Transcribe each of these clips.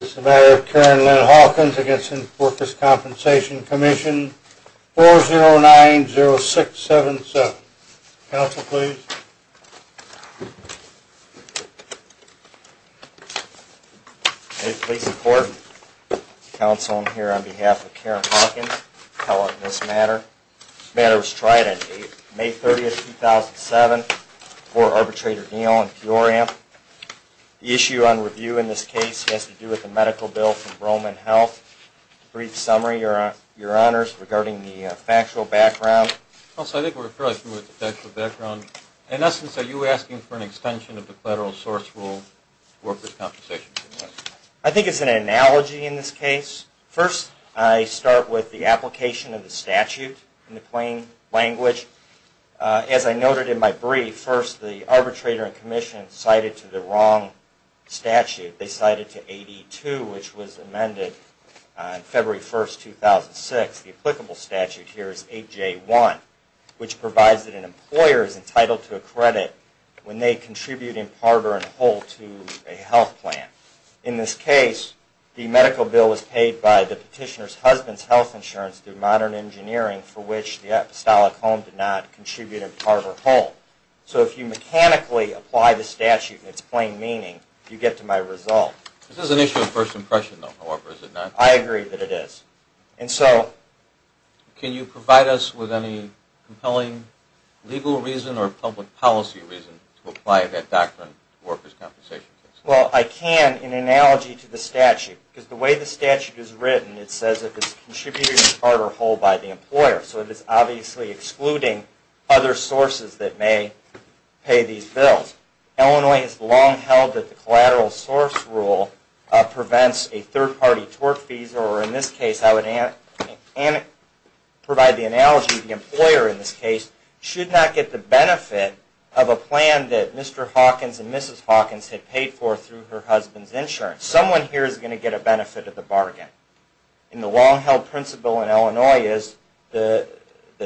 This is a matter of Karen Lynn Hawkins against the Workers' Compensation Commission, 4090677. Counsel, please. May it please the court, counsel, I'm here on behalf of Karen Hawkins to call on this matter. This matter was tried on May 30, 2007 for arbitrator Neal and Peoramp. The issue on review in this case has to do with the medical bill from Roman Health. Brief summary, your honors, regarding the factual background. Counsel, I think we're fairly familiar with the factual background. In essence, are you asking for an extension of the collateral source rule to the Workers' Compensation Commission? I think it's an analogy in this case. First, I start with the application of the statute in the plain language. As I noted in my brief, first the arbitrator and commission cited to the wrong statute. They cited to AD2, which was amended on February 1, 2006. The applicable statute here is AJ1, which provides that an employer is entitled to a credit when they contribute in part or in whole to a health plan. In this case, the medical bill was paid by the petitioner's husband's health insurance through modern engineering, for which the apostolic home did not contribute in part or whole. So if you mechanically apply the statute in its plain meaning, you get to my result. This is an issue of first impression, though, however, is it not? I agree that it is. Can you provide us with any compelling legal reason or public policy reason to apply that doctrine to the Workers' Compensation Commission? Well, I can in analogy to the statute, because the way the statute is written, it says if it's contributed in part or whole by the employer. So it is obviously excluding other sources that may pay these bills. Illinois has long held that the collateral source rule prevents a third-party tort fees, or in this case I would provide the analogy that the employer in this case should not get the benefit of a plan that Mr. Hawkins and Mrs. Hawkins had paid for through her husband's insurance. Someone here is going to get a benefit of the bargain. And the long-held principle in Illinois is the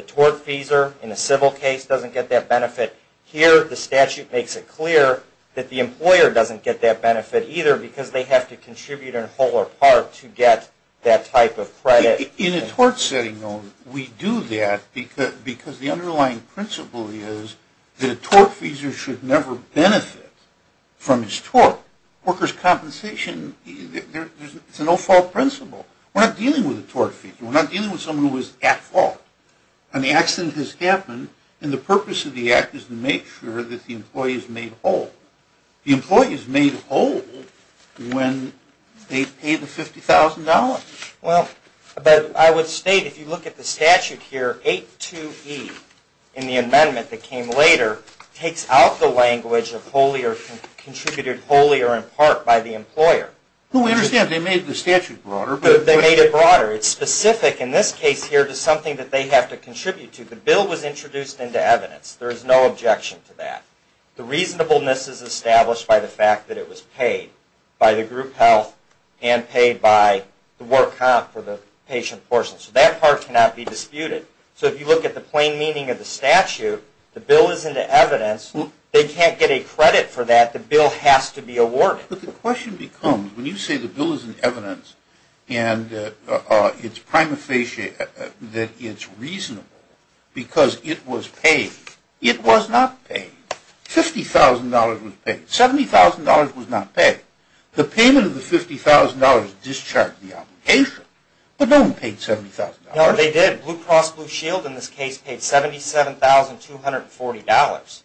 tort feeser in a civil case doesn't get that benefit. Here, the statute makes it clear that the employer doesn't get that benefit either, because they have to contribute in whole or part to get that type of credit. In a tort setting, though, we do that because the underlying principle is that a tort feeser should never benefit from his tort. Workers' Compensation, it's a no-fault principle. We're not dealing with a tort feeser. We're not dealing with someone who is at fault. An accident has happened, and the purpose of the act is to make sure that the employee is made whole. The employee is made whole when they pay the $50,000. Well, but I would state, if you look at the statute here, 8-2-E in the amendment that came later takes out the language of contributed wholly or in part by the employer. Well, we understand. They made the statute broader. They made it broader. It's specific in this case here to something that they have to contribute to. The bill was introduced into evidence. There is no objection to that. The reasonableness is established by the fact that it was paid by the group health and paid by the work comp for the patient portion. So that part cannot be disputed. So if you look at the plain meaning of the statute, the bill is into evidence. They can't get a credit for that. The bill has to be awarded. But the question becomes, when you say the bill is in evidence and it's prima facie that it's reasonable because it was paid, it was not paid. $50,000 was paid. $70,000 was not paid. The payment of the $50,000 discharged the obligation, but no one paid $70,000. No, they did. Blue Cross Blue Shield in this case paid $77,240.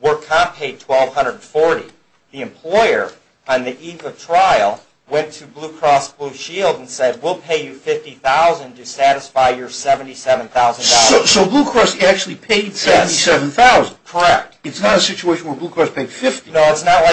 Work comp paid $1,240. The employer on the eve of trial went to Blue Cross Blue Shield and said, we'll pay you $50,000 to satisfy your $77,000. So Blue Cross actually paid $77,000. Correct. It's not a situation where Blue Cross paid $50,000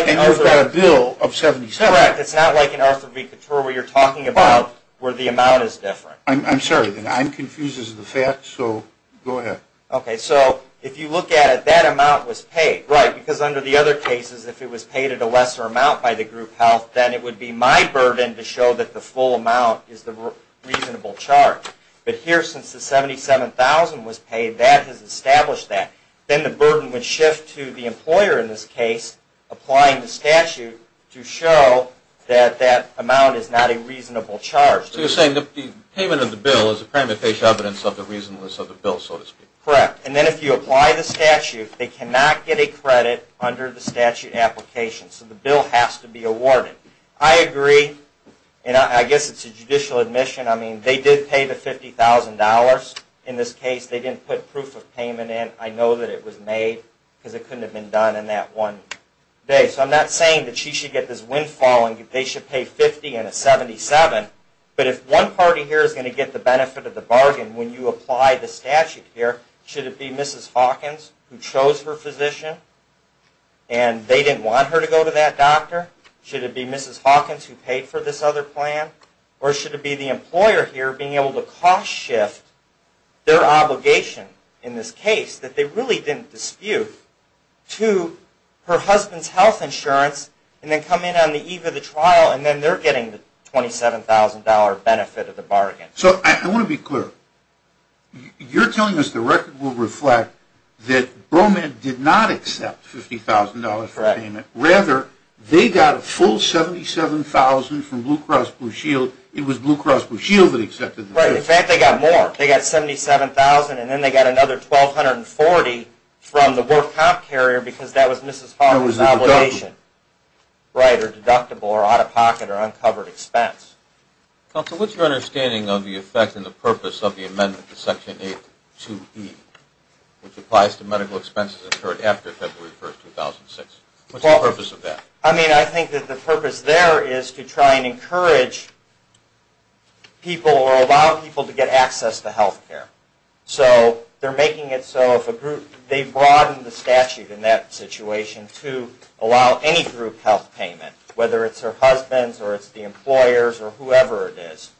and you've got a bill of $77,000. Correct. It's not like in Arthur v. Couture where you're talking about where the amount is different. I'm sorry. I'm confused as to the facts, so go ahead. Okay. So if you look at it, that amount was paid. Right. Because under the other cases, if it was paid at a lesser amount by the group health, then it would be my burden to show that the full amount is the reasonable charge. But here, since the $77,000 was paid, that has established that. Then the burden would shift to the employer in this case applying the statute to show that that amount is not a reasonable charge. So you're saying the payment of the bill is a prima facie evidence of the reasonableness of the bill, so to speak. Correct. And then if you apply the statute, they cannot get a credit under the statute application. So the bill has to be awarded. I agree, and I guess it's a judicial admission. I mean, they did pay the $50,000 in this case. They didn't put proof of payment in. I know that it was made because it couldn't have been done in that one day. So I'm not saying that she should get this windfall and they should pay $50,000 and a $77,000. But if one party here is going to get the benefit of the bargain when you apply the statute here, should it be Mrs. Hawkins who chose her physician and they didn't want her to go to that doctor? Should it be Mrs. Hawkins who paid for this other plan? Or should it be the employer here being able to cost shift their obligation in this case that they really didn't dispute to her husband's health insurance and then come in on the eve of the trial and then they're getting the $27,000 benefit of the bargain? So I want to be clear. You're telling us the record will reflect that Broman did not accept $50,000 for payment. Rather, they got a full $77,000 from Blue Cross Blue Shield. It was Blue Cross Blue Shield that accepted the benefit. Right. In fact, they got more. They got $77,000 and then they got another $1,240 from the work comp carrier because that was Mrs. Hawkins' obligation. Right, or deductible or out-of-pocket or uncovered expense. Counselor, what's your understanding of the effect and the purpose of the amendment to Section 8.2.E which applies to medical expenses incurred after February 1, 2006? What's the purpose of that? I mean, I think that the purpose there is to try and encourage people or allow people to get access to health care. So they're making it so they've broadened the statute in that situation to allow any group health payment, whether it's her husband's or it's the employer's or whoever it is.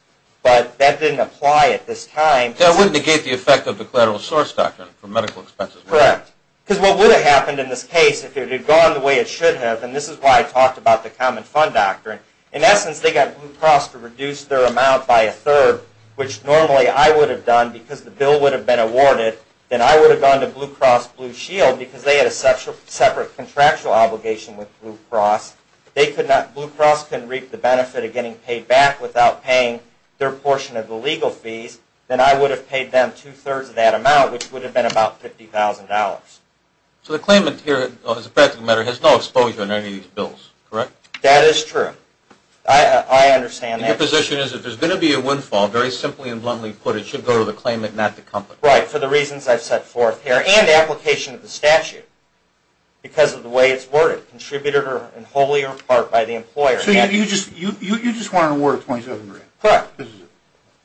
But that didn't apply at this time. That wouldn't negate the effect of the collateral source doctrine for medical expenses. Correct. Because what would have happened in this case if it had gone the way it should have, and this is why I talked about the common fund doctrine, in essence they got Blue Cross to reduce their amount by a third, which normally I would have done because the bill would have been awarded. Then I would have gone to Blue Cross Blue Shield because they had a separate contractual obligation with Blue Cross. Blue Cross couldn't reap the benefit of getting paid back without paying their portion of the legal fees. Then I would have paid them two-thirds of that amount, which would have been about $50,000. So the claimant here, as a practical matter, has no exposure in any of these bills, correct? That is true. I understand that. Your position is if there's going to be a windfall, very simply and bluntly put, it should go to the claimant, not the company. Right, for the reasons I've set forth here and the application of the statute because of the way it's worded, contributed wholly or in part by the employer. So you just want an award of $2,700? Correct.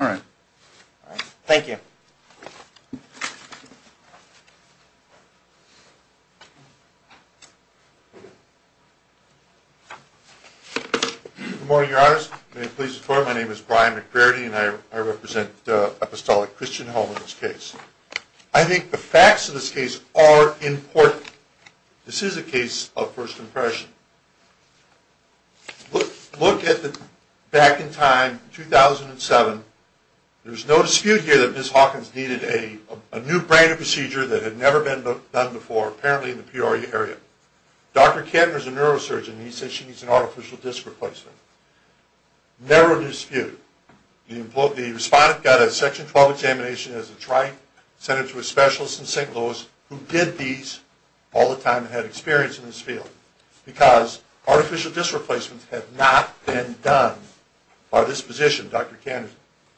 All right. Thank you. Good morning, Your Honors. May it please the Court, my name is Brian McGrady and I represent Apostolic Christian Home in this case. I think the facts of this case are important. This is a case of first impression. Look at the back in time, 2007. There's no dispute here that Ms. Hawkins needed a new brand of procedure that had never been done before, apparently in the Peoria area. Dr. Kattner is a neurosurgeon. He says she needs an artificial disc replacement. Never a dispute. The respondent got a Section 12 examination as a trite, sent it to a specialist in St. Louis who did these all the time and had experience in this field. Because artificial disc replacements had not been done by this physician, Dr. Kattner.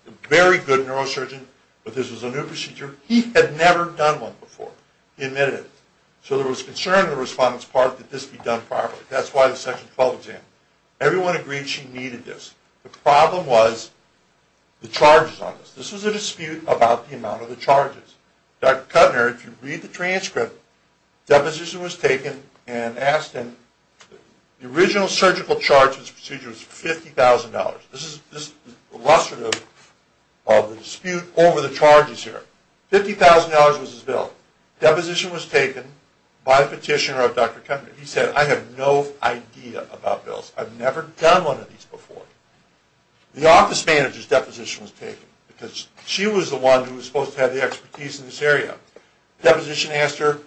A very good neurosurgeon, but this was a new procedure. He had never done one before. He admitted it. So there was concern in the respondent's part that this be done properly. That's why the Section 12 exam. Everyone agreed she needed this. The problem was the charges on this. This was a dispute about the amount of the charges. Dr. Kattner, if you read the transcript, deposition was taken and asked him. The original surgical charge of this procedure was $50,000. This is illustrative of the dispute over the charges here. $50,000 was his bill. Deposition was taken by a petitioner of Dr. Kattner. He said, I have no idea about bills. I've never done one of these before. The office manager's deposition was taken because she was the one who was supposed to have the expertise in this area. Deposition asked her,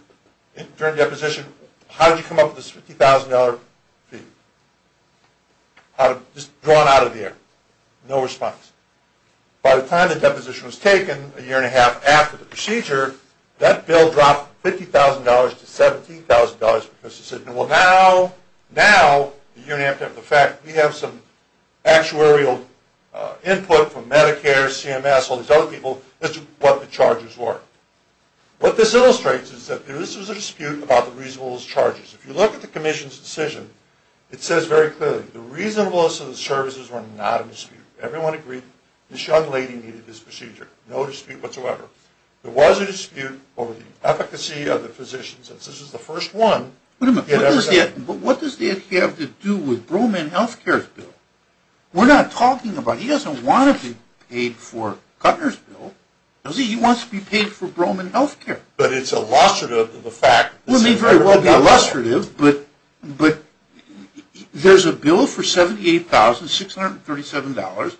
during deposition, how did you come up with this $50,000 fee? Just drawn out of the air. No response. By the time the deposition was taken, a year and a half after the procedure, that bill dropped from $50,000 to $70,000 because she said, well now, now, a year and a half after the fact, we have some actuarial input from Medicare, CMS, all these other people, as to what the charges were. What this illustrates is that this was a dispute about the reasonableness of charges. If you look at the commission's decision, it says very clearly, the reasonableness of the services were not a dispute. Everyone agreed this young lady needed this procedure. No dispute whatsoever. There was a dispute over the efficacy of the physicians, and since this was the first one, he had everything. But what does that have to do with Broman Health Care's bill? We're not talking about, he doesn't want to be paid for Guttner's bill. He wants to be paid for Broman Health Care. But it's illustrative of the fact. It may very well be illustrative, but there's a bill for $78,637,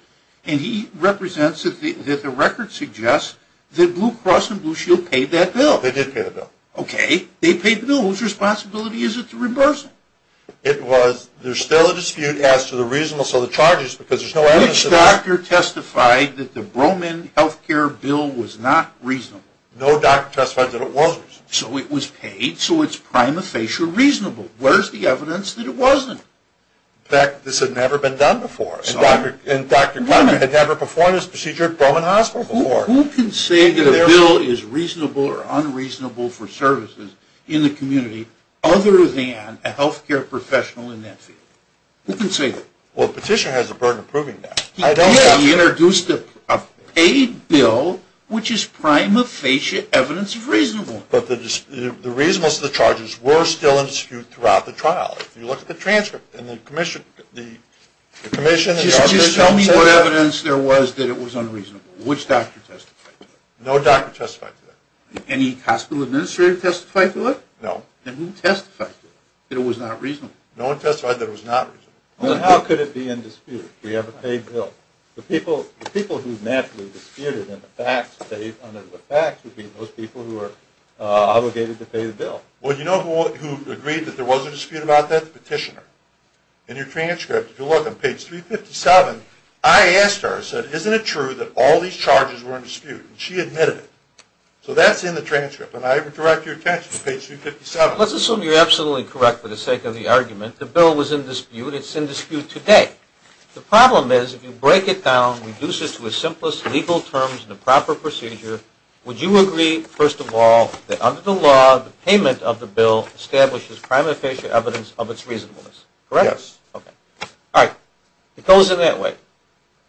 and he represents that the record suggests that Blue Cross and Blue Shield paid that bill. They did pay the bill. Okay. They paid the bill. Whose responsibility is it to reimburse them? It was, there's still a dispute as to the reasonableness of the charges because there's no evidence of that. Which doctor testified that the Broman Health Care bill was not reasonable? No doctor testified that it wasn't. So it was paid, so it's prima facie reasonable. Where's the evidence that it wasn't? In fact, this had never been done before, and Dr. Guttner had never performed this procedure at Broman Hospital before. Who can say that a bill is reasonable or unreasonable for services in the community other than a health care professional in that field? Who can say that? Well, the petitioner has the burden of proving that. He did. He introduced a paid bill, which is prima facie evidence of reasonable. But the reasonableness of the charges were still in dispute throughout the trial. If you look at the transcript and the commission and others don't say that. Just tell me what evidence there was that it was unreasonable. Which doctor testified to that? No doctor testified to that. Any hospital administrator testify to it? No. Then who testified to it, that it was not reasonable? No one testified that it was not reasonable. Then how could it be in dispute? We have a paid bill. The people who naturally disputed under the facts would be those people who are obligated to pay the bill. Well, you know who agreed that there was a dispute about that? The petitioner. In your transcript, if you look on page 357, I asked her, I said, isn't it true that all these charges were in dispute? And she admitted it. So that's in the transcript, and I direct your attention to page 357. Let's assume you're absolutely correct for the sake of the argument. The bill was in dispute. It's in dispute today. The problem is if you break it down, reduce it to the simplest legal terms and the proper procedure, would you agree, first of all, that under the law, the payment of the bill establishes prima facie evidence of its reasonableness? Correct? Yes. Okay. All right. It goes in that way.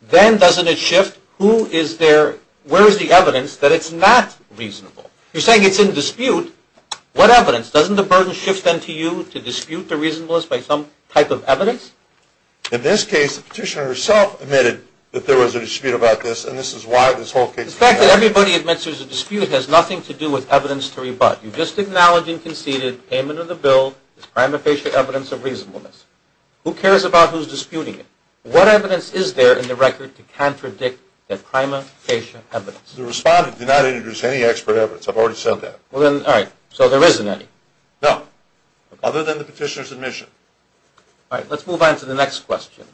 Then doesn't it shift? Where is the evidence that it's not reasonable? You're saying it's in dispute. What evidence? Doesn't the burden shift then to you to dispute the reasonableness by some type of evidence? In this case, the petitioner herself admitted that there was a dispute about this, and this is why this whole case came out. The fact that everybody admits there's a dispute has nothing to do with evidence to rebut. You just acknowledged and conceded payment of the bill is prima facie evidence of reasonableness. Who cares about who's disputing it? What evidence is there in the record to contradict that prima facie evidence? The respondent did not introduce any expert evidence. I've already said that. All right. So there isn't any? No. Other than the petitioner's admission. All right. Let's move on to the next question.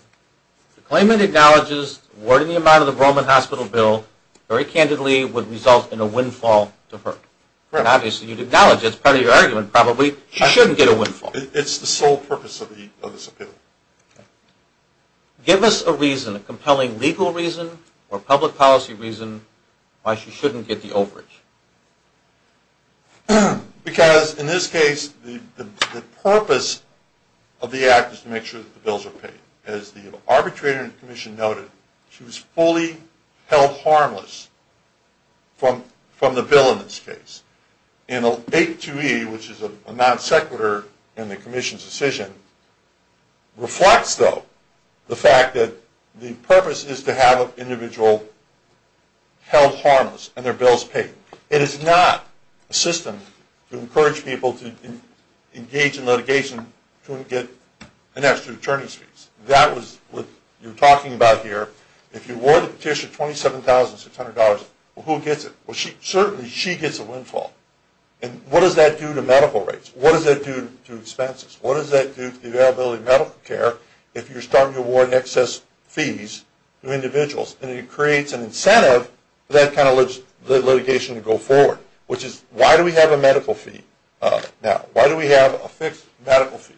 The claimant acknowledges awarding the amount of the Broman Hospital bill very candidly would result in a windfall to her. Obviously, you'd acknowledge it. It's part of your argument probably. She shouldn't get a windfall. It's the sole purpose of this appeal. Give us a reason, a compelling legal reason or public policy reason why she shouldn't get the overage. Because in this case, the purpose of the act is to make sure that the bills are paid. As the arbitrator in the commission noted, she was fully held harmless from the bill in this case. And a 8-2e, which is a non sequitur in the commission's decision, reflects, though, the fact that the purpose is to have an individual held harmless and their bills paid. It is not a system to encourage people to engage in litigation to get an extra return of fees. That was what you're talking about here. If you awarded the petitioner $27,600, who gets it? Well, certainly she gets a windfall. And what does that do to medical rates? What does that do to expenses? What does that do to the availability of medical care if you're starting to award excess fees to individuals? And it creates an incentive for that kind of litigation to go forward, which is, why do we have a medical fee now? Why do we have a fixed medical fee?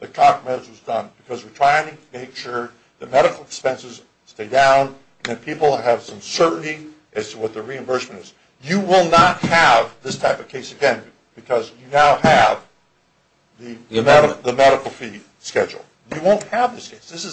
Because we're trying to make sure the medical expenses stay down and people have some certainty as to what the reimbursement is. You will not have this type of case again because you now have the medical fee schedule. You won't have this case. This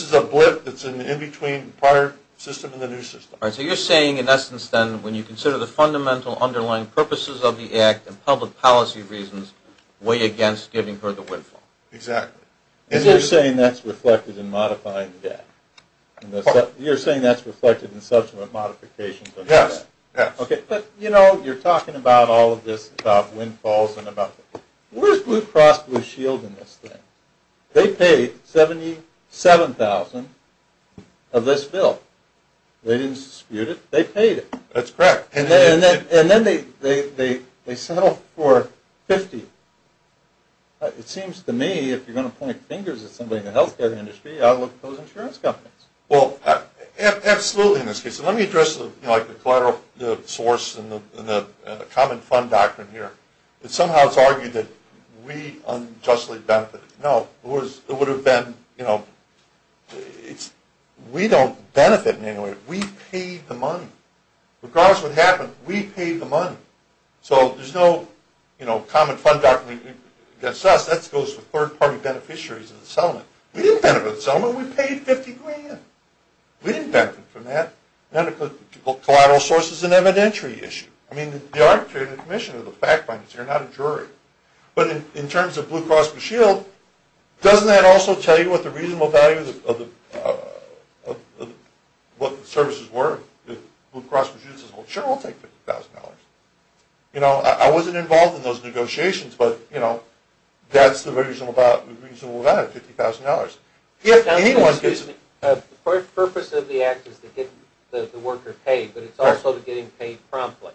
is a blip that's in between the prior system and the new system. So you're saying, in essence, then, when you consider the fundamental underlying purposes of the act and public policy reasons, way against giving her the windfall. Exactly. And you're saying that's reflected in modifying the debt? You're saying that's reflected in subsequent modifications of the debt? Yes. Okay. But, you know, you're talking about all of this, about windfalls. Where's Blue Cross Blue Shield in this thing? They paid $77,000 of this bill. They didn't dispute it. They paid it. That's correct. And then they settled for $50. It seems to me, if you're going to point fingers at somebody in the health care industry, I would look at those insurance companies. Well, absolutely in this case. And let me address, you know, like the collateral source and the common fund doctrine here. It somehow is argued that we unjustly benefit. No. It would have been, you know, we don't benefit in any way. We paid the money. Regardless of what happened, we paid the money. So there's no, you know, common fund doctrine against us. That goes for third-party beneficiaries of the settlement. We didn't benefit from the settlement. We paid $50,000. We didn't benefit from that. Collateral source is an evidentiary issue. I mean, the arbitrator, the commissioner, the fact finder is here, not a jury. But in terms of Blue Cross Blue Shield, doesn't that also tell you what the reasonable value of the services were? Blue Cross Blue Shield says, well, sure, we'll take $50,000. You know, I wasn't involved in those negotiations, but, you know, that's the reasonable value, $50,000. If anyone gets it. The purpose of the act is to get the worker paid, but it's also to get him paid promptly.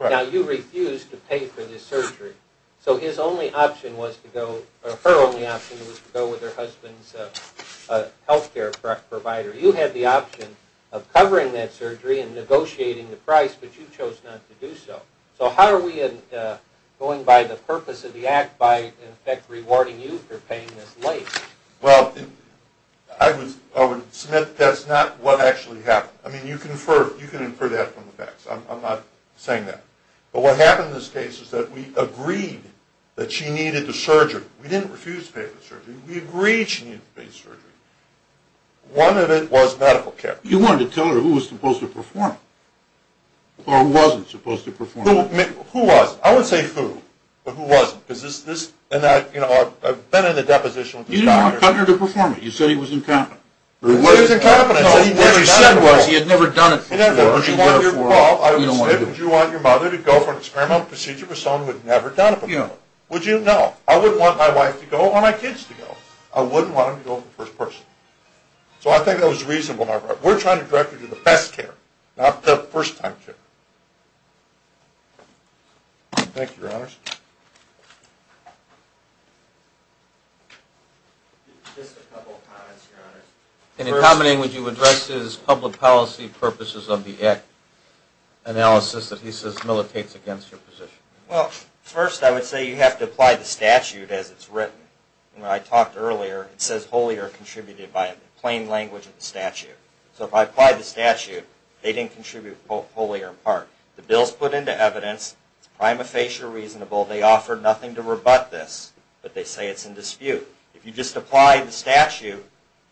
Right. Now, you refused to pay for this surgery. So his only option was to go, or her only option was to go with her husband's health care provider. You had the option of covering that surgery and negotiating the price, but you chose not to do so. So how are we going by the purpose of the act by, in effect, rewarding you for paying this late? Well, I would submit that's not what actually happened. I mean, you can infer that from the facts. I'm not saying that. But what happened in this case is that we agreed that she needed the surgery. We didn't refuse to pay for the surgery. We agreed she needed to pay for the surgery. One of it was medical care. You wanted to tell her who was supposed to perform it, or who wasn't supposed to perform it. Who was. I wouldn't say who, but who wasn't. Because this, and I, you know, I've been in the deposition with his daughter. You didn't want to cut her to perform it. You said he was incompetent. He was incompetent. No, what you said was he had never done it before. And therefore, I would say, would you want your mother to go for an experimental procedure with someone who had never done it before? Would you? No. I wouldn't want my wife to go or my kids to go. I wouldn't want them to go for the first person. So I think that was reasonable. We're trying to directly do the best care, not the first time care. Thank you, Your Honors. Just a couple of comments, Your Honors. In common language, you addressed his public policy purposes of the act analysis that he says militates against your position. Well, first I would say you have to apply the statute as it's written. When I talked earlier, it says wholly or contributed by plain language of the statute. So if I apply the statute, they didn't contribute wholly or in part. The bill's put into evidence. It's prima facie reasonable. They offered nothing to rebut this, but they say it's in dispute. If you just apply the statute,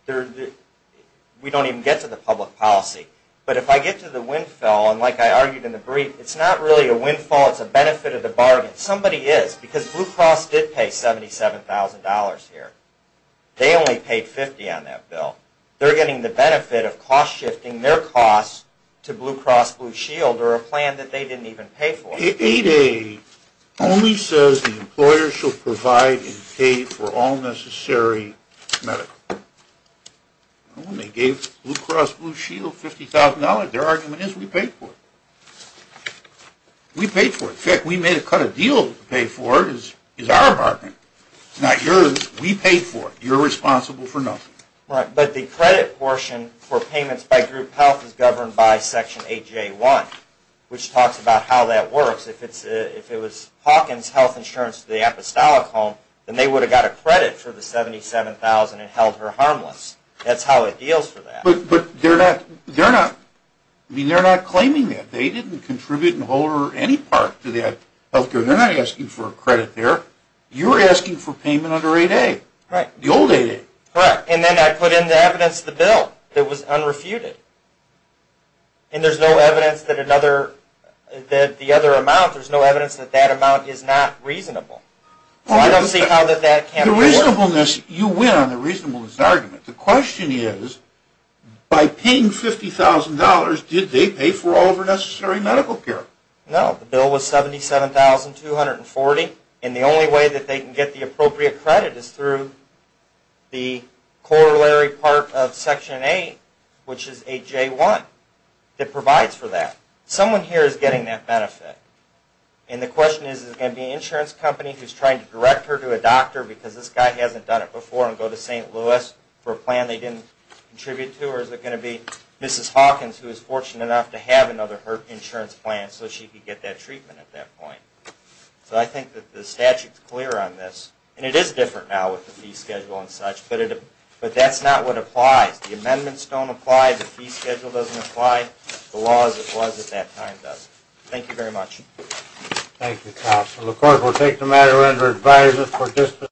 we don't even get to the public policy. But if I get to the windfall, and like I argued in the brief, it's not really a windfall. It's a benefit of the bargain. Somebody is, because Blue Cross did pay $77,000 here. They only paid $50,000 on that bill. They're getting the benefit of cost-shifting their costs to Blue Cross Blue Shield or a plan that they didn't even pay for. 8A only says the employer shall provide and pay for all necessary medical. When they gave Blue Cross Blue Shield $50,000, their argument is we paid for it. We paid for it. In fact, we made a cut of deals to pay for it is our bargain. It's not yours. We paid for it. You're responsible for nothing. But the credit portion for payments by group health is governed by Section 8J1, which talks about how that works. If it was Hawkins Health Insurance to the apostolic home, then they would have got a credit for the $77,000 and held her harmless. That's how it deals for that. But they're not claiming that. They didn't contribute in the whole or any part to that health care. They're not asking for a credit there. You're asking for payment under 8A, the old 8A. Correct. And then I put in the evidence of the bill that was unrefuted. And there's no evidence that another, that the other amount, there's no evidence that that amount is not reasonable. So I don't see how that can work. The reasonableness, you win on the reasonableness argument. The question is by paying $50,000, did they pay for all of her necessary medical care? No. The bill was $77,240. And the only way that they can get the appropriate credit is through the corollary part of Section 8, which is 8J1, that provides for that. Someone here is getting that benefit. And the question is, is it going to be an insurance company who's trying to direct her to a doctor because this guy hasn't done it before and go to St. Louis for a plan they didn't contribute to? Or is it going to be Mrs. Hawkins who is fortunate enough to have another insurance plan so she can get that treatment at that point? So I think that the statute is clear on this. And it is different now with the fee schedule and such. But that's not what applies. The amendments don't apply. The fee schedule doesn't apply. The law as it was at that time does. Thank you very much. Thank you, counsel. Of course, we'll take the matter under advisory.